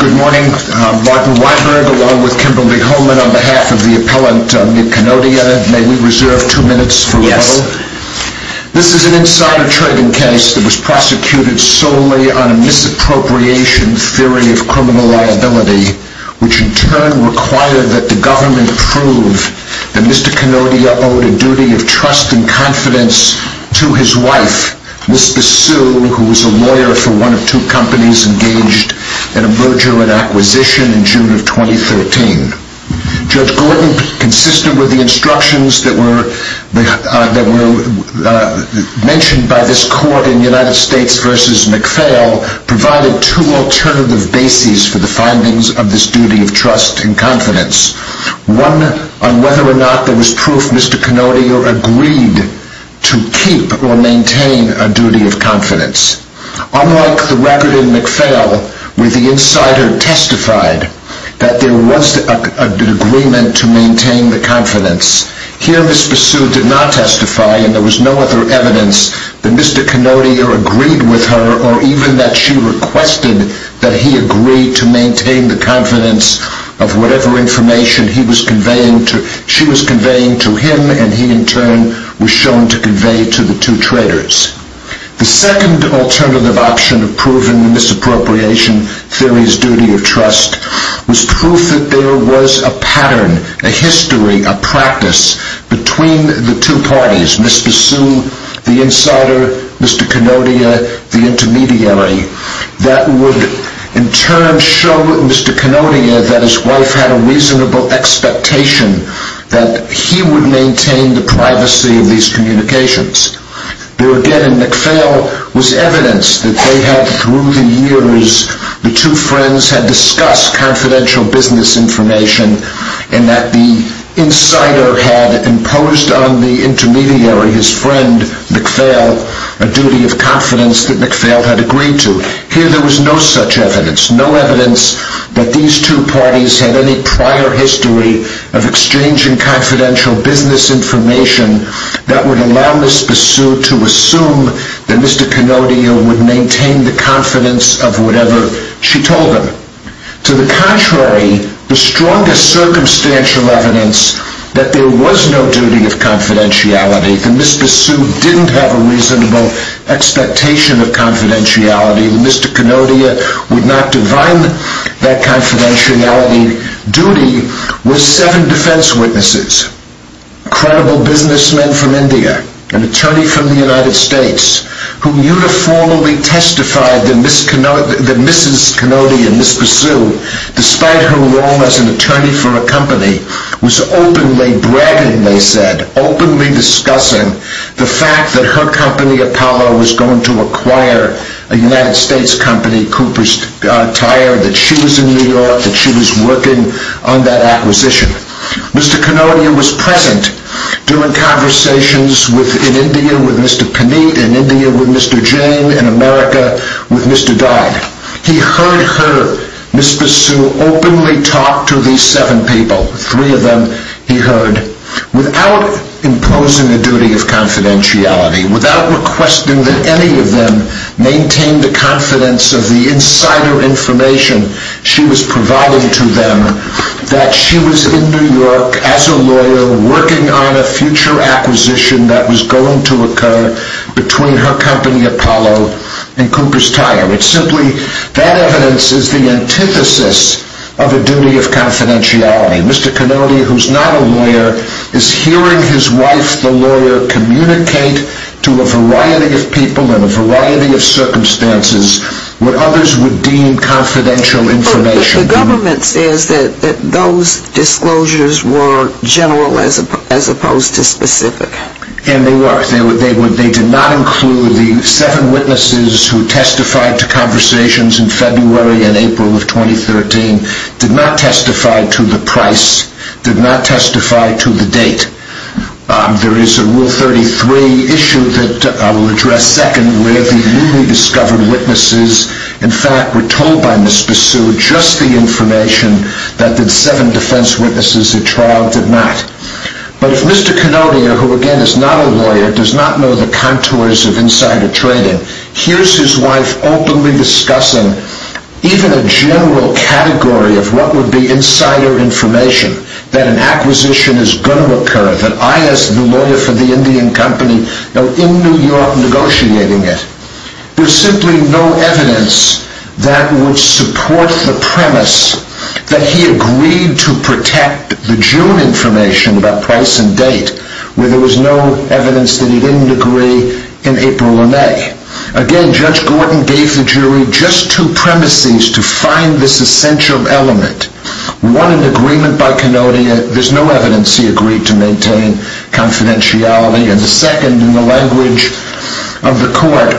Good morning, Martin Weidner, along with Kimberley Holman, I'm the director of the U.S. Department of Commerce, and on behalf of the appellant, Mitt Kanodia, may we reserve two minutes for rebuttal? Yes. This is an insider trading case that was prosecuted solely on a misappropriation theory of criminal liability, which in turn required that the government prove that Mr. Kanodia owed a duty of trust and confidence to his wife, Mr. Sue, who was a lawyer for one of two companies engaged in a merger and acquisition in June of 2013. Judge Gordon, consistent with the instructions that were mentioned by this court in United States v. McPhail, provided two alternative bases for the findings of this duty of trust and confidence. One, on whether or not there was proof Mr. Kanodia agreed to keep or maintain a duty of confidence. Unlike the record in McPhail, where the insider testified that there was an agreement to maintain the confidence, here Ms. Sue did not testify, and there was no other evidence that Mr. Kanodia agreed with her, or even that she requested that he agree to maintain the confidence of whatever information she was conveying to him, and he in turn was shown to convey to the two traders. The second alternative option of proving the misappropriation theory's duty of trust was proof that there was a pattern, a history, a practice between the two parties, Mr. Sue the insider, Mr. Kanodia the intermediary, that would in turn show Mr. Kanodia that his wife had a reasonable expectation that he would maintain the privacy of these communications. There again in McPhail was evidence that they had, through the years, the two friends had discussed confidential business information, and that the insider had imposed on the intermediary, his friend McPhail, a duty of confidence that McPhail had agreed to. Here there was no such evidence, no evidence that these two parties had any prior history of exchanging confidential business information that would allow Mr. Sue to assume that Mr. Kanodia would maintain the confidence of whatever she told him. To the contrary, the strongest circumstantial evidence that there was no duty of confidentiality, that Mr. Sue didn't have a reasonable expectation of confidentiality, that Mr. Kanodia would not divine that confidentiality duty, was seven defense witnesses. Credible businessmen from India, an attorney from the United States, who uniformly testified that Mrs. Kanodia and Ms. Sue, despite her role as an attorney for a company, was openly bragging, they said, openly discussing the fact that her company, Apollo, was going to acquire a United States company, Cooper's Tire, that she was in New York, that she was working on that acquisition. Mr. Kanodia was present during conversations in India with Mr. Panit, in India with Mr. Jane, in America with Mr. Dodd. He heard her, Ms. Sue, openly talk to these seven people, three of them he heard, without imposing a duty of confidentiality, without requesting that any of them maintain the confidence of the insider information she was providing to them, that she was in New York, as a lawyer, working on a future acquisition that was going to occur between her company, Apollo, and Cooper's Tire. It's simply, that evidence is the antithesis of a duty of confidentiality. Mr. Kanodia, who's not a lawyer, is hearing his wife, the lawyer, communicate to a variety of people, in a variety of circumstances, where others would deem confidential information. The government says that those disclosures were general, as opposed to specific. And they were. They did not include the seven witnesses who testified to conversations in February and April of 2013, did not testify to the price, did not testify to the date. There is a Rule 33 issue that I will address second, where the newly-discovered witnesses, in fact, were told by Ms. Sue, just the information that the seven defense witnesses at trial did not. But if Mr. Kanodia, who again is not a lawyer, does not know the contours of insider trading, hears his wife openly discussing even a general category of what would be insider information, that an acquisition is going to occur, that I, as the lawyer for the Indian Company, am in New York negotiating it, there's simply no evidence that would support the premise that he agreed to protect the June information, about price and date, where there was no evidence that he didn't agree in April or May. Again, Judge Gordon gave the jury just two premises to find this essential element. One, an agreement by Kanodia. There's no evidence he agreed to maintain confidentiality. And the second, in the language of the court,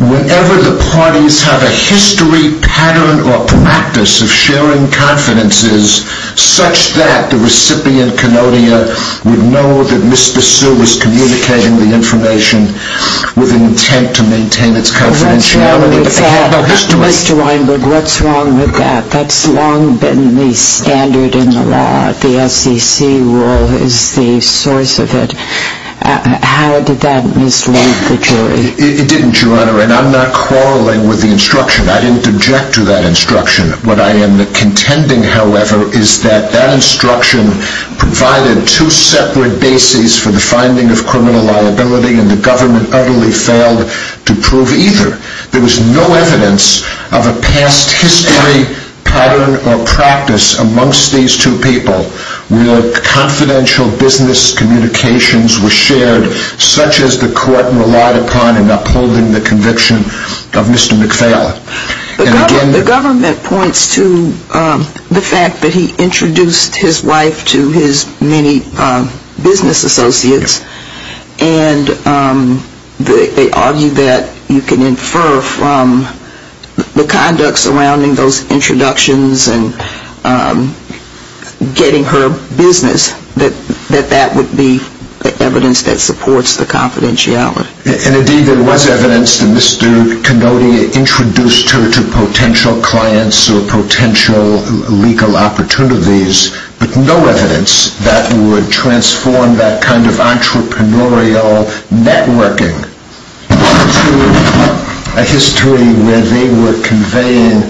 whenever the parties have a history, pattern, or practice of sharing confidences, such that the recipient, Kanodia, would know that Mr. Sue was communicating the information with an intent to maintain its confidentiality. Mr. Weinberg, what's wrong with that? That's long been the standard in the law. The SEC rule is the source of it. How did that mislead the jury? It didn't, Your Honor, and I'm not quarreling with the instruction. I didn't object to that instruction. What I am contending, however, is that that instruction provided two separate bases for the finding of criminal liability, and the government utterly failed to prove either. There was no evidence of a past history, pattern, or practice amongst these two people where confidential business communications were shared, such as the court relied upon in upholding the conviction of Mr. McPhail. The government points to the fact that he introduced his wife to his many business associates, and they argue that you can infer from the conduct surrounding those introductions and getting her business that that would be the evidence that supports the confidentiality. Indeed, there was evidence that Mr. Kanodia introduced her to potential clients or potential legal opportunities, but no evidence that would transform that kind of entrepreneurial networking into a history where they were conveying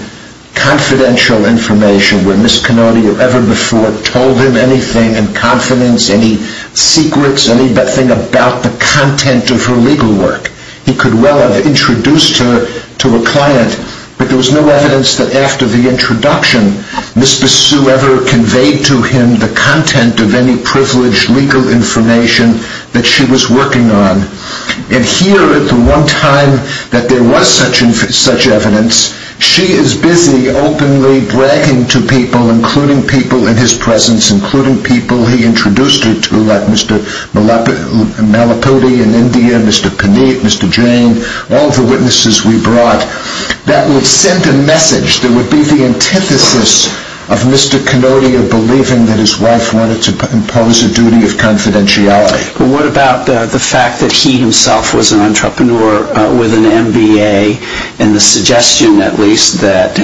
confidential information, where Ms. Kanodia ever before told him anything in confidence, any secrets, anything about the content of her legal work. He could well have introduced her to a client, but there was no evidence that after the introduction, Mr. Sue ever conveyed to him the content of any privileged legal information that she was working on. And here at the one time that there was such evidence, she is busy openly bragging to people, including people in his presence, including people he introduced her to, like Mr. Malapiti in India, Mr. Paneet, Mr. Jane, all the witnesses we brought. That would send a message that would be the antithesis of Mr. Kanodia believing that his wife wanted to impose a duty of confidentiality. But what about the fact that he himself was an entrepreneur with an MBA and the suggestion, at least, that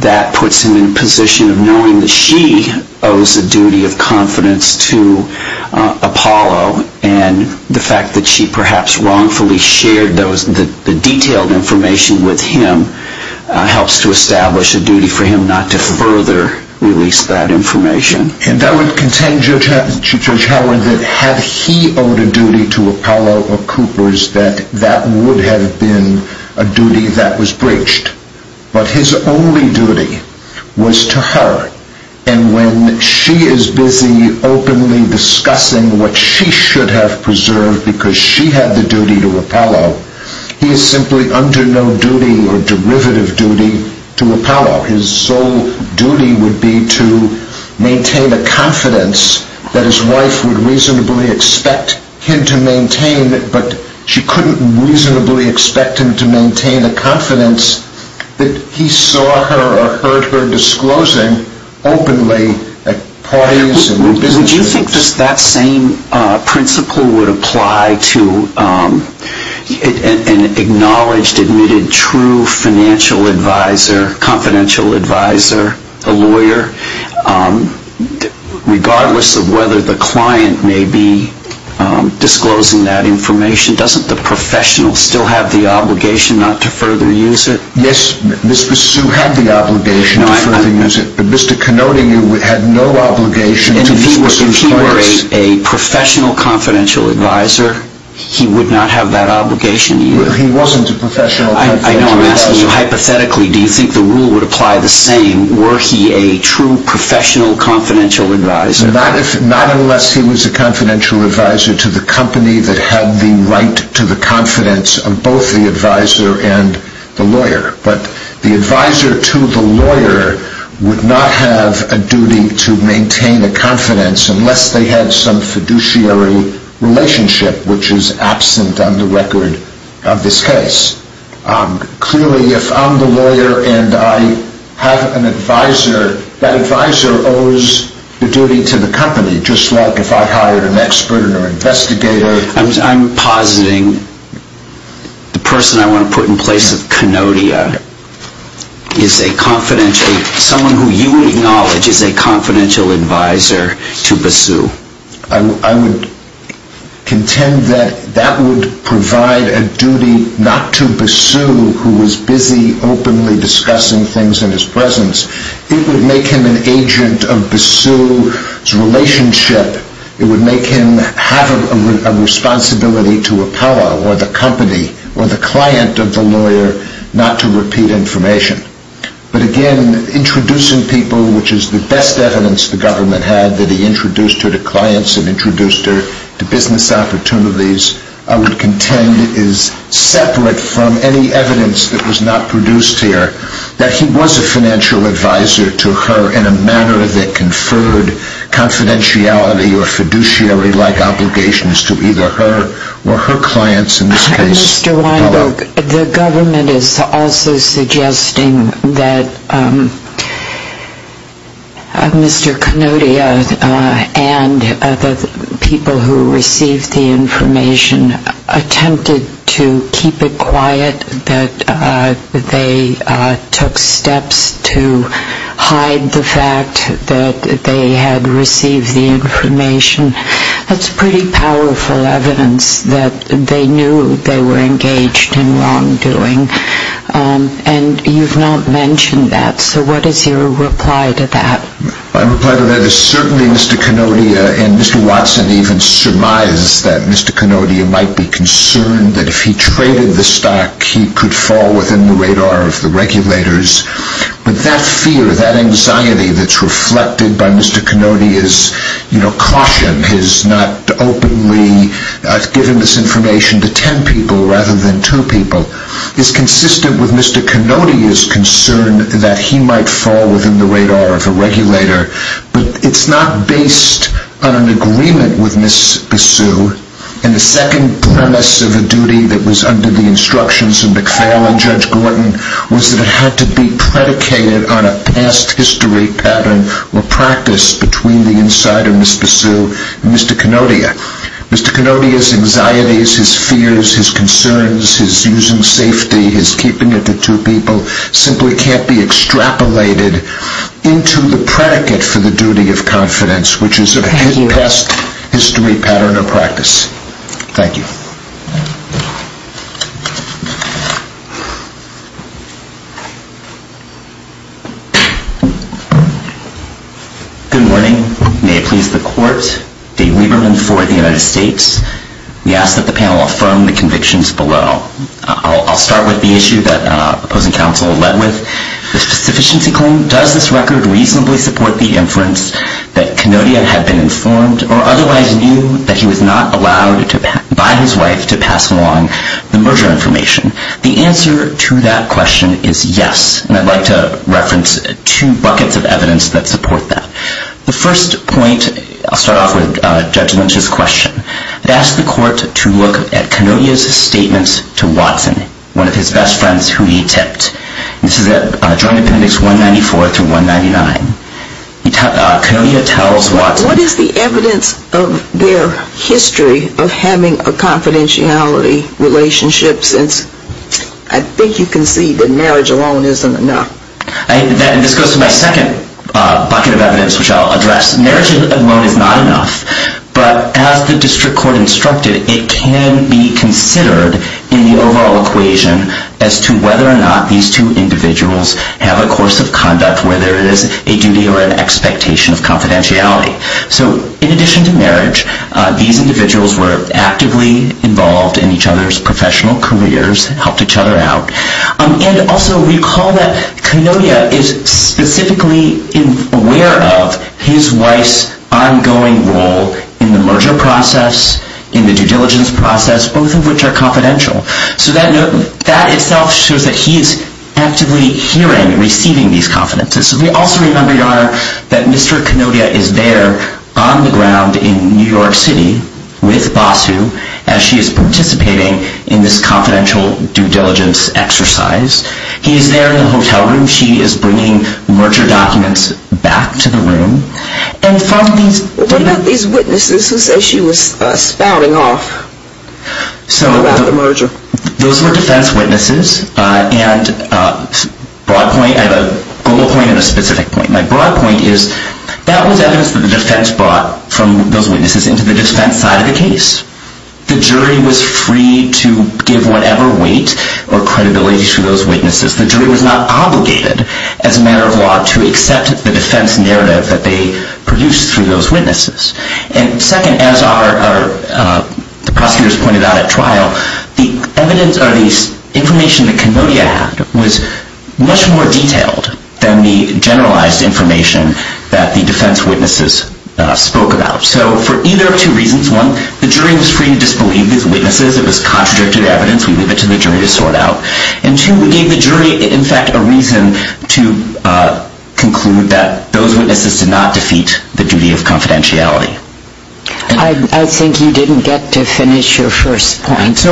that puts him in a position of knowing that she owes a duty of confidence to Apollo and the fact that she perhaps wrongfully shared the detailed information with him helps to establish a duty for him not to further release that information. And that would contain Judge Howard that had he owed a duty to Apollo or Coopers, that that would have been a duty that was breached. But his only duty was to her and when she is busy openly discussing what she should have preserved because she had the duty to Apollo, he is simply under no duty or derivative duty to Apollo. His sole duty would be to maintain a confidence that his wife would reasonably expect him to maintain, but she couldn't reasonably expect him to maintain a confidence that he saw her or heard her disclosing openly at parties and business meetings. Would you think that same principle would apply to an acknowledged, admitted, true financial advisor, confidential advisor, a lawyer? Regardless of whether the client may be disclosing that information, doesn't the professional still have the obligation not to further use it? Yes, Mr. Sue had the obligation to further use it, but Mr. Canote had no obligation to Mr. Sue's clients. And if he were a professional confidential advisor, he would not have that obligation to use it? He wasn't a professional confidential advisor. I know I'm asking you hypothetically, do you think the rule would apply the same? Were he a true professional confidential advisor? Not unless he was a confidential advisor to the company that had the right to the confidence of both the advisor and the lawyer. But the advisor to the lawyer would not have a duty to maintain a confidence unless they had some fiduciary relationship, which is absent on the record of this case. Clearly, if I'm the lawyer and I have an advisor, that advisor owes the duty to the company, just like if I hired an expert or an investigator. I'm positing the person I want to put in place of Canote is a confidential, someone who you acknowledge is a confidential advisor to Basu. I would contend that that would provide a duty not to Basu, who was busy openly discussing things in his presence. It would make him an agent of Basu's relationship. It would make him have a responsibility to Apollo or the company or the client of the lawyer not to repeat information. But again, introducing people, which is the best evidence the government had that he introduced her to clients and introduced her to business opportunities, I would contend is separate from any evidence that was not produced here. That he was a financial advisor to her in a manner that conferred confidentiality or fiduciary-like obligations to either her or her clients, in this case, Apollo. The government is also suggesting that Mr. Canote and the people who received the information attempted to keep it quiet, that they took steps to hide the fact that they had received the information. That's pretty powerful evidence that they knew they were engaged in wrongdoing. And you've not mentioned that, so what is your reply to that? My reply to that is certainly Mr. Canote and Mr. Watson even surmise that Mr. Canote might be concerned that if he traded the stock, he could fall within the radar of the regulators. But that fear, that anxiety that's reflected by Mr. Canote's caution, his not openly giving this information to ten people rather than two people, is consistent with Mr. Canote's concern that he might fall within the radar of a regulator. But it's not based on an agreement with Ms. Basu. And the second premise of a duty that was under the instructions of McFarlane and Judge Gordon was that it had to be predicated on a past history pattern or practice between the insider, Mr. Basu, and Mr. Canote. Mr. Canote's anxieties, his fears, his concerns, his using safety, his keeping it to two people, simply can't be extrapolated into the predicate for the duty of confidence, which is a past history pattern or practice. Thank you. Good morning. May it please the court, Dave Lieberman for the United States. We ask that the panel affirm the convictions below. I'll start with the issue that opposing counsel led with, the sufficiency claim. Does this record reasonably support the inference that Canote had been informed or otherwise knew that he was not allowed by his wife to pass along the merger information? The answer to that question is yes. And I'd like to reference two buckets of evidence that support that. The first point, I'll start off with Judge Lynch's question. I'd ask the court to look at Canote's statements to Watson, one of his best friends who he tipped. This is at Joint Appendix 194 through 199. Canote tells Watson. What is the evidence of their history of having a confidentiality relationship since I think you can see that marriage alone isn't enough? This goes to my second bucket of evidence, which I'll address. Marriage alone is not enough. But as the district court instructed, it can be considered in the overall equation as to whether or not these two individuals have a course of conduct, whether it is a duty or an expectation of confidentiality. So in addition to marriage, these individuals were actively involved in each other's professional careers, helped each other out. And also recall that Canote is specifically aware of his wife's ongoing role in the merger process, in the due diligence process, both of which are confidential. So that itself shows that he is actively hearing and receiving these confidences. So we also remember, Your Honor, that Mr. Canote is there on the ground in New York City with Basu as she is participating in this confidential due diligence exercise. He is there in the hotel room. She is bringing merger documents back to the room. And from these... What about these witnesses who say she was spouting off about the merger? Those were defense witnesses. And I have a goal point and a specific point. My broad point is that was evidence that the defense brought from those witnesses into the defense side of the case. The jury was free to give whatever weight or credibility to those witnesses. The jury was not obligated as a matter of law to accept the defense narrative that they produced through those witnesses. And second, as the prosecutors pointed out at trial, the evidence or the information that Canote had was much more detailed than the generalized information that the defense witnesses spoke about. So for either of two reasons, one, the jury was free to disbelieve these witnesses. It was contradicted evidence. We leave it to the jury to sort out. And two, we gave the jury, in fact, a reason to conclude that those witnesses did not defeat the duty of confidentiality. I think you didn't get to finish your first point.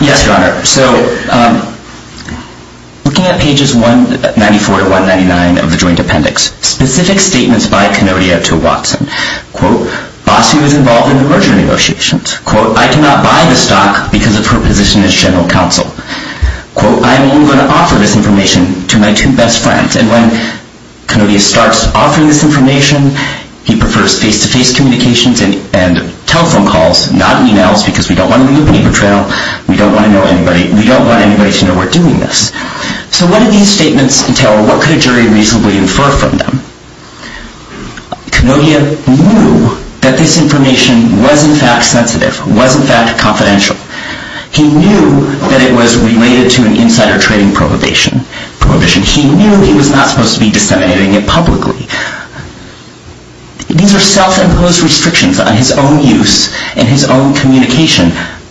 Yes, Your Honor. So looking at pages 194 to 199 of the joint appendix, specific statements by Canote to Watson. Quote, Basu is involved in the merger negotiations. Quote, I cannot buy the stock because of her position as general counsel. Quote, I am only going to offer this information to my two best friends. And when Canote starts offering this information, he prefers face-to-face communications and telephone calls, not emails, because we don't want to be a paper trail. We don't want anybody to know we're doing this. So what did these statements entail? What could a jury reasonably infer from them? Canote knew that this information was, in fact, sensitive, was, in fact, confidential. He knew that it was related to an insider trading prohibition. He knew he was not supposed to be disseminating it publicly. These are self-imposed restrictions on his own use and his own communication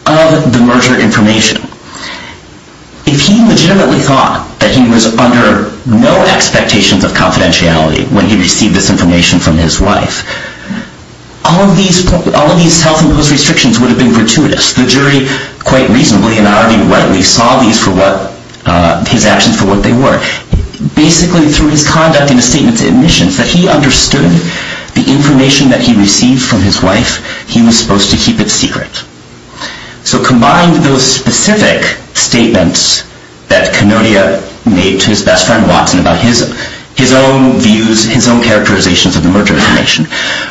of the merger information. If he legitimately thought that he was under no expectations of confidentiality when he received this information from his wife, all of these self-imposed restrictions would have been gratuitous. The jury, quite reasonably and already readily, saw his actions for what they were. Basically, through his conduct in a statement to admissions, that he understood the information that he received from his wife, he was supposed to keep it secret. So combined those specific statements that Canote made to his best friend, Watson, about his own views, his own characterizations of the merger information,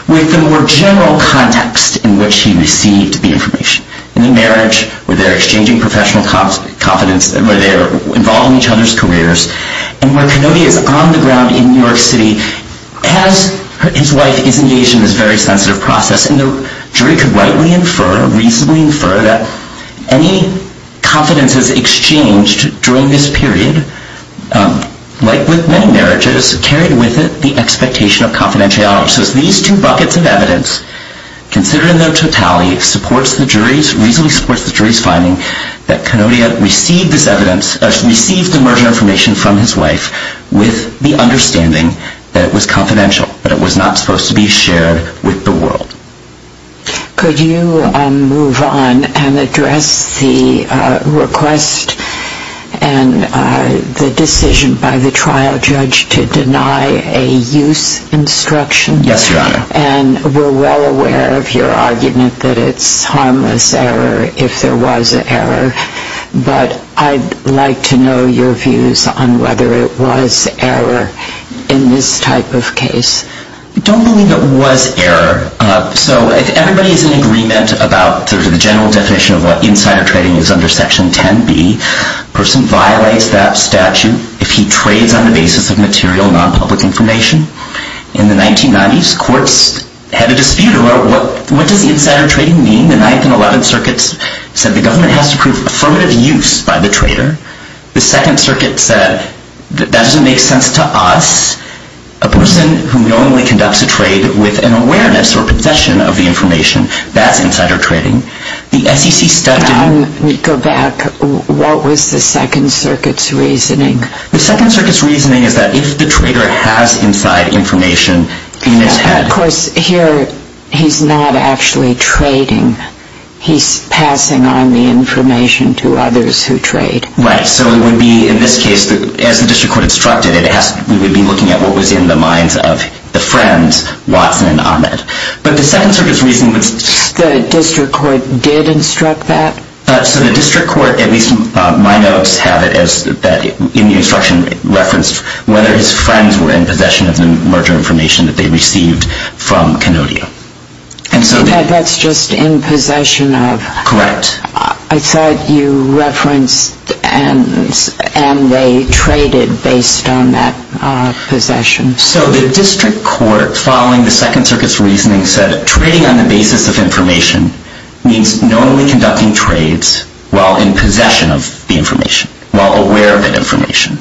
with the more general context in which he received the information. In the marriage, where they are exchanging professional confidence, where they are involved in each other's careers, and where Canote is on the ground in New York City as his wife is engaged in this very sensitive process. And the jury could rightly infer, reasonably infer, that any confidences exchanged during this period, like with many marriages, carried with it the expectation of confidentiality. So these two buckets of evidence, considered in their totality, reasonably supports the jury's finding that Canote received the merger information from his wife with the understanding that it was confidential, that it was not supposed to be shared with the world. Could you move on and address the request and the decision by the trial judge to deny a use instruction? Yes, Your Honor. And we're well aware of your argument that it's harmless error if there was an error. But I'd like to know your views on whether it was error in this type of case. I don't believe it was error. So if everybody is in agreement about the general definition of what insider trading is under Section 10b, a person violates that statute if he trades on the basis of material, non-public information. In the 1990s, courts had a dispute about what does insider trading mean. The 9th and 11th Circuits said the government has to prove affirmative use by the trader. The 2nd Circuit said that doesn't make sense to us. A person who normally conducts a trade with an awareness or possession of the information, that's insider trading. The SEC studied... Go back. What was the 2nd Circuit's reasoning? The 2nd Circuit's reasoning is that if the trader has inside information in his head... Of course, here, he's not actually trading. He's passing on the information to others who trade. Right. So it would be, in this case, as the District Court instructed, we would be looking at what was in the minds of the friends, Watson and Ahmed. But the 2nd Circuit's reasoning was... The District Court did instruct that? So the District Court, at least my notes have it, in the instruction referenced whether his friends were in possession of the merger information that they received from Canodia. And that's just in possession of... Correct. I thought you referenced and they traded based on that possession. So the District Court, following the 2nd Circuit's reasoning, said trading on the basis of information means normally conducting trades while in possession of the information, while aware of the information.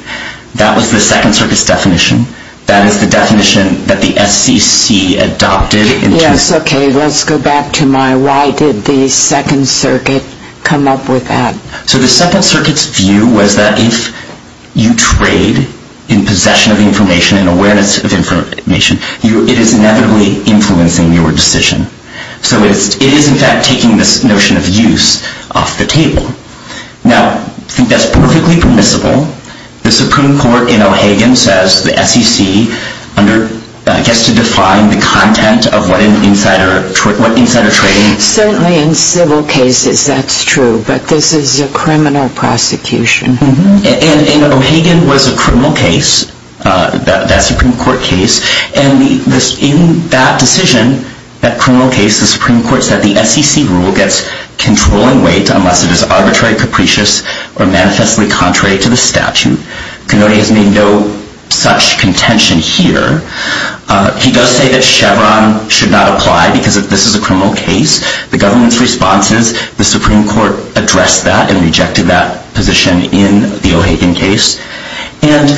That was the 2nd Circuit's definition. That is the definition that the SEC adopted in 2006. That's okay. Let's go back to my... Why did the 2nd Circuit come up with that? So the 2nd Circuit's view was that if you trade in possession of information and awareness of information, it is inevitably influencing your decision. So it is, in fact, taking this notion of use off the table. Now, I think that's perfectly permissible. The Supreme Court in O'Hagan says the SEC gets to define the content of what insider trading... Certainly in civil cases that's true, but this is a criminal prosecution. And O'Hagan was a criminal case, that Supreme Court case, and in that decision, that criminal case, the Supreme Court said the SEC rule gets control and weight unless it is arbitrary, capricious, or manifestly contrary to the statute. Kennedy has made no such contention here. He does say that Chevron should not apply because this is a criminal case. The government's response is the Supreme Court addressed that and rejected that position in the O'Hagan case. And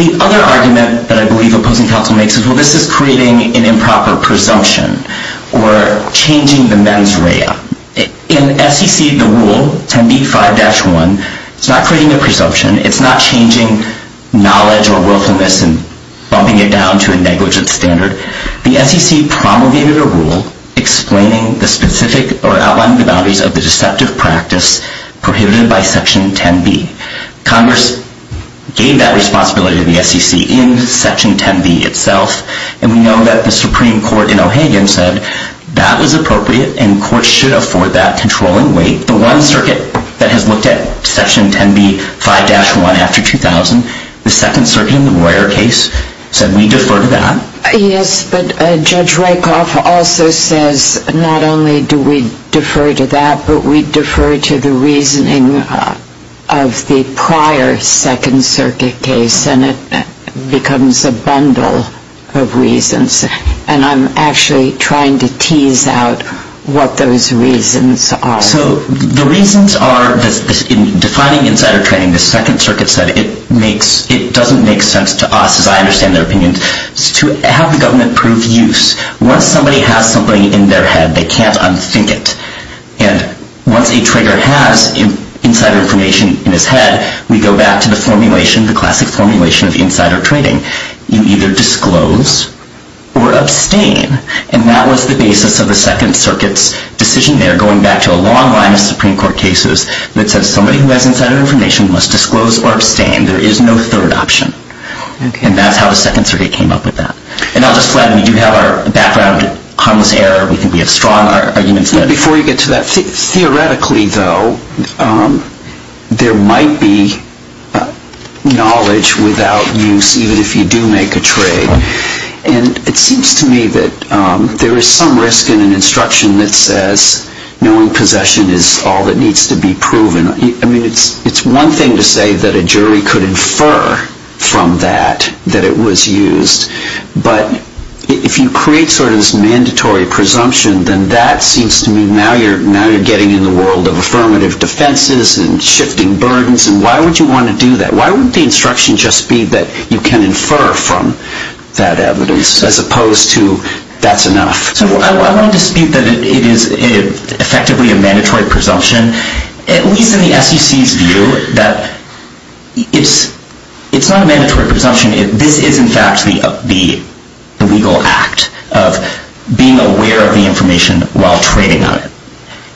the other argument that I believe opposing counsel makes is, well, this is creating an improper presumption or changing the mens rea. In SEC, the rule, 10b-5-1, it's not creating a presumption. It's not changing knowledge or willfulness and bumping it down to a negligent standard. The SEC promulgated a rule explaining the specific or outlining the boundaries of the deceptive practice prohibited by Section 10b. Congress gave that responsibility to the SEC in Section 10b itself. And we know that the Supreme Court in O'Hagan said that was appropriate and courts should afford that control and weight. The one circuit that has looked at Section 10b-5-1 after 2000, the Second Circuit in the Royer case, said we defer to that. Yes, but Judge Rakoff also says not only do we defer to that, but we defer to the reasoning of the prior Second Circuit case. And it becomes a bundle of reasons. And I'm actually trying to tease out what those reasons are. So the reasons are, in defining insider training, the Second Circuit said it doesn't make sense to us, as I understand their opinions, to have the government prove use. Once somebody has something in their head, they can't unthink it. And once a trader has insider information in his head, we go back to the formulation, the classic formulation of insider training. You either disclose or abstain. And that was the basis of the Second Circuit's decision there, going back to a long line of Supreme Court cases that said somebody who has insider information must disclose or abstain. There is no third option. And that's how the Second Circuit came up with that. And I'll just flag that we do have our background harmless error. We think we have strong arguments there. Before you get to that, theoretically, though, there might be knowledge without use, even if you do make a trade. And it seems to me that there is some risk in an instruction that says, knowing possession is all that needs to be proven. I mean, it's one thing to say that a jury could infer from that that it was used. But if you create sort of this mandatory presumption, then that seems to me now you're getting in the world of affirmative defenses and shifting burdens. And why would you want to do that? Why wouldn't the instruction just be that you can infer from that evidence, as opposed to that's enough? So I want to dispute that it is effectively a mandatory presumption, at least in the SEC's view, that it's not a mandatory presumption. This is, in fact, the legal act of being aware of the information while trading on it.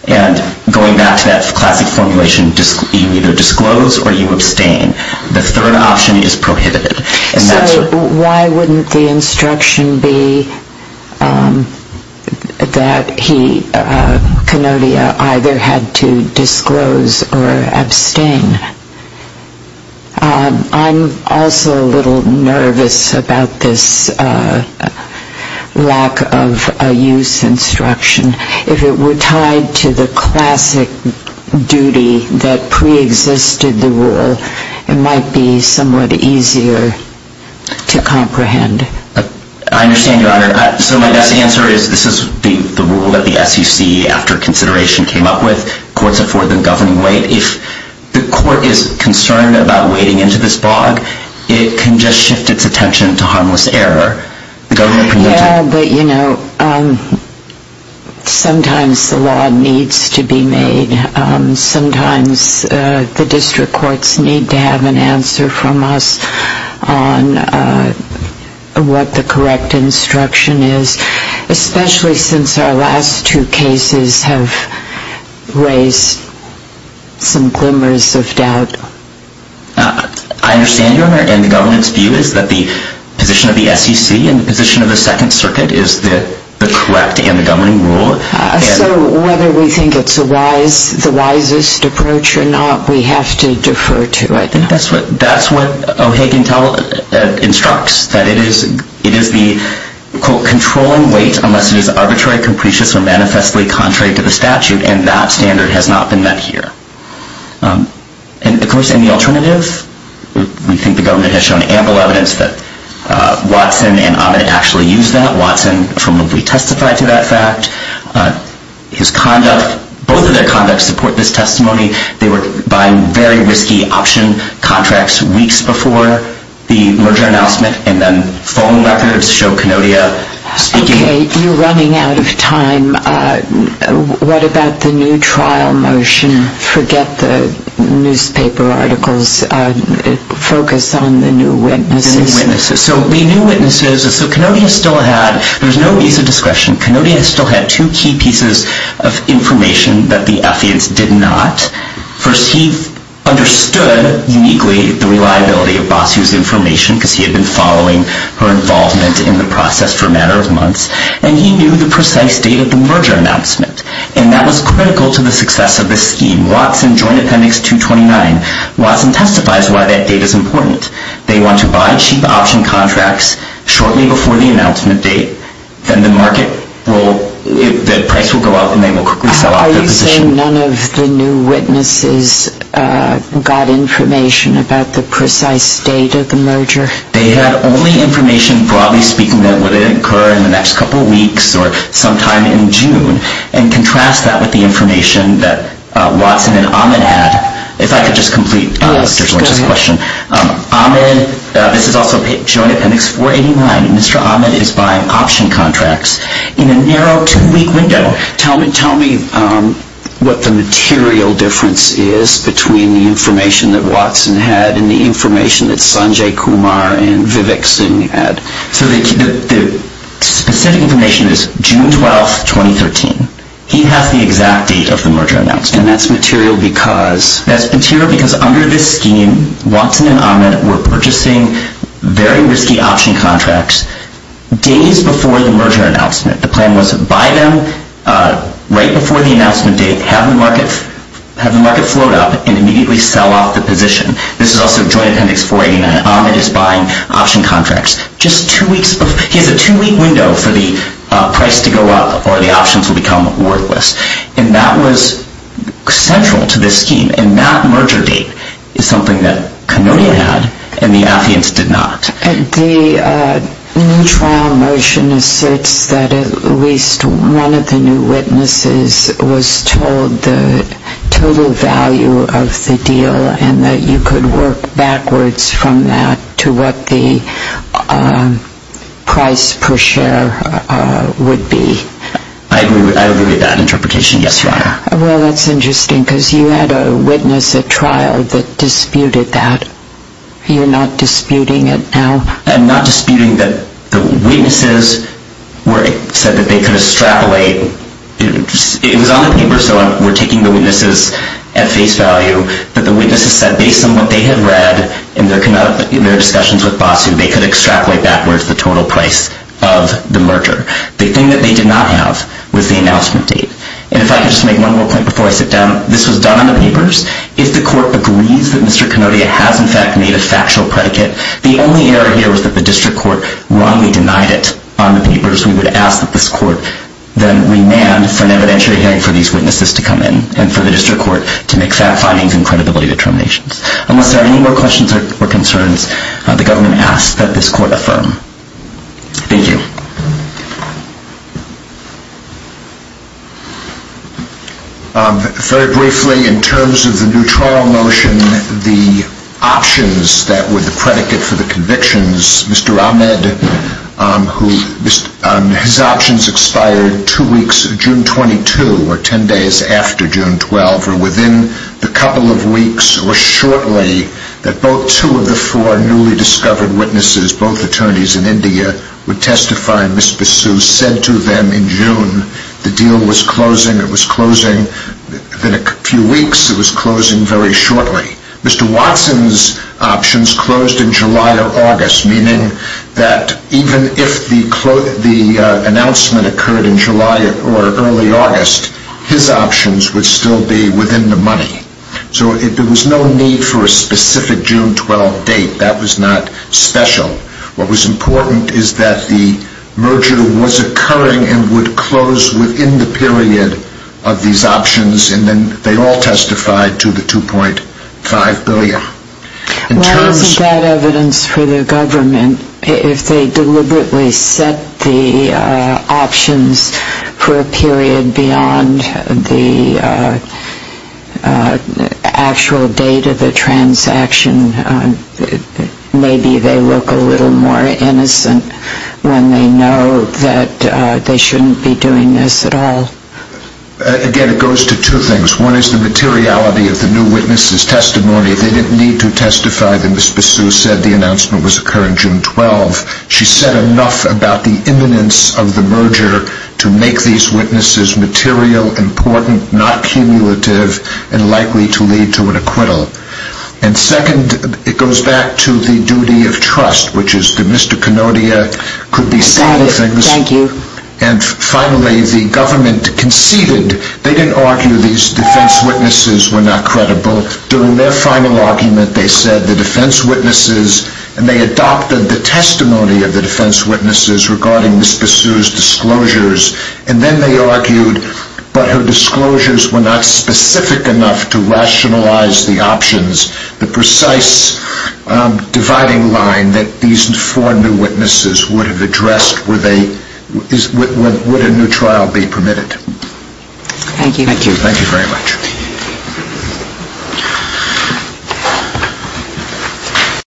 And going back to that classic formulation, you either disclose or you abstain. The third option is prohibited. So why wouldn't the instruction be that he, Kenodia, either had to disclose or abstain? I'm also a little nervous about this lack of a use instruction. If it were tied to the classic duty that preexisted the rule, it might be somewhat easier to comprehend. I understand, Your Honor. So my best answer is this is the rule that the SEC, after consideration, came up with. Courts afford the governing weight. But if the court is concerned about wading into this bog, it can just shift its attention to harmless error. Yeah, but, you know, sometimes the law needs to be made. Sometimes the district courts need to have an answer from us on what the correct instruction is, especially since our last two cases have raised some glimmers of doubt. I understand, Your Honor, and the government's view is that the position of the SEC and the position of the Second Circuit is the correct and the governing rule. So whether we think it's the wisest approach or not, we have to defer to it. I think that's what O'Hagan instructs, that it is the, quote, controlling weight unless it is arbitrary, capricious, or manifestly contrary to the statute. And that standard has not been met here. And, of course, any alternative? We think the government has shown ample evidence that Watson and Amed actually used that. Watson formally testified to that fact. His conduct, both of their conducts support this testimony. They were buying very risky option contracts weeks before the merger announcement, and then phone records show Kenodia speaking. Okay, you're running out of time. What about the new trial motion? Forget the newspaper articles. Focus on the new witnesses. The new witnesses. So the new witnesses, so Kenodia still had, there was no visa discretion. Kenodia still had two key pieces of information that the effigies did not. First, he understood uniquely the reliability of Basu's information because he had been following her involvement in the process for a matter of months, and he knew the precise date of the merger announcement. And that was critical to the success of this scheme. Watson joined Appendix 229. Watson testifies why that date is important. They want to buy cheap option contracts shortly before the announcement date. Then the market will, the price will go up and they will quickly sell off their position. Are you saying none of the new witnesses got information about the precise date of the merger? They had only information, broadly speaking, that would incur in the next couple of weeks or sometime in June, and contrast that with the information that Watson and Ahmed had. If I could just complete Judge Lynch's question. Yes, go ahead. Ahmed, this is also shown in Appendix 489. Mr. Ahmed is buying option contracts in a narrow two-week window. Tell me what the material difference is between the information that Watson had and the information that Sanjay Kumar and Vivek Singh had. So the specific information is June 12, 2013. He has the exact date of the merger announcement. And that's material because? That's material because under this scheme, Watson and Ahmed were purchasing very risky option contracts days before the merger announcement. The plan was to buy them right before the announcement date, have the market float up, and immediately sell off the position. This is also Joint Appendix 489. Ahmed is buying option contracts just two weeks before. He has a two-week window for the price to go up or the options will become worthless. And that was central to this scheme. And that merger date is something that Kanodia had and the Nafians did not. The new trial motion asserts that at least one of the new witnesses was told the total value of the deal and that you could work backwards from that to what the price per share would be. I agree with that interpretation. Yes, Your Honor. Well, that's interesting because you had a witness at trial that disputed that. You're not disputing it now? I'm not disputing that the witnesses said that they could extrapolate. It was on the paper, so we're taking the witnesses at face value. But the witnesses said based on what they had read in their discussions with Basu, they could extrapolate backwards the total price of the merger. The thing that they did not have was the announcement date. And if I could just make one more point before I sit down. This was done on the papers. If the court agrees that Mr. Kanodia has, in fact, made a factual predicate, the only error here was that the district court wrongly denied it on the papers. We would ask that this court then remand for an evidentiary hearing for these witnesses to come in and for the district court to make fact findings and credibility determinations. Unless there are any more questions or concerns, the government asks that this court affirm. Thank you. Very briefly, in terms of the neutral motion, the options that were the predicate for the convictions, Mr. Ahmed, his options expired two weeks, June 22, or ten days after June 12, or within the couple of weeks or shortly that both two of the four newly discovered witnesses, both attorneys in India, would testify. Ms. Basu said to them in June the deal was closing. It was closing in a few weeks. It was closing very shortly. Mr. Watson's options closed in July or August, meaning that even if the announcement occurred in July or early August, his options would still be within the money. So there was no need for a specific June 12 date. That was not special. What was important is that the merger was occurring and would close within the period of these options, and then they all testified to the $2.5 billion. Why isn't that evidence for the government? If they deliberately set the options for a period beyond the actual date of the transaction, maybe they look a little more innocent when they know that they shouldn't be doing this at all. Again, it goes to two things. One is the materiality of the new witnesses' testimony. They didn't need to testify. Ms. Basu said the announcement was occurring June 12. She said enough about the imminence of the merger to make these witnesses material, important, not cumulative, and likely to lead to an acquittal. And second, it goes back to the duty of trust, which is that Mr. Kanodia could be saying things. And finally, the government conceded. They didn't argue these defense witnesses were not credible. During their final argument, they said the defense witnesses, and they adopted the testimony of the defense witnesses regarding Ms. Basu's disclosures, and then they argued, but her disclosures were not specific enough to rationalize the options, the precise dividing line that these four new witnesses would have addressed would a new trial be permitted. Thank you. Thank you very much.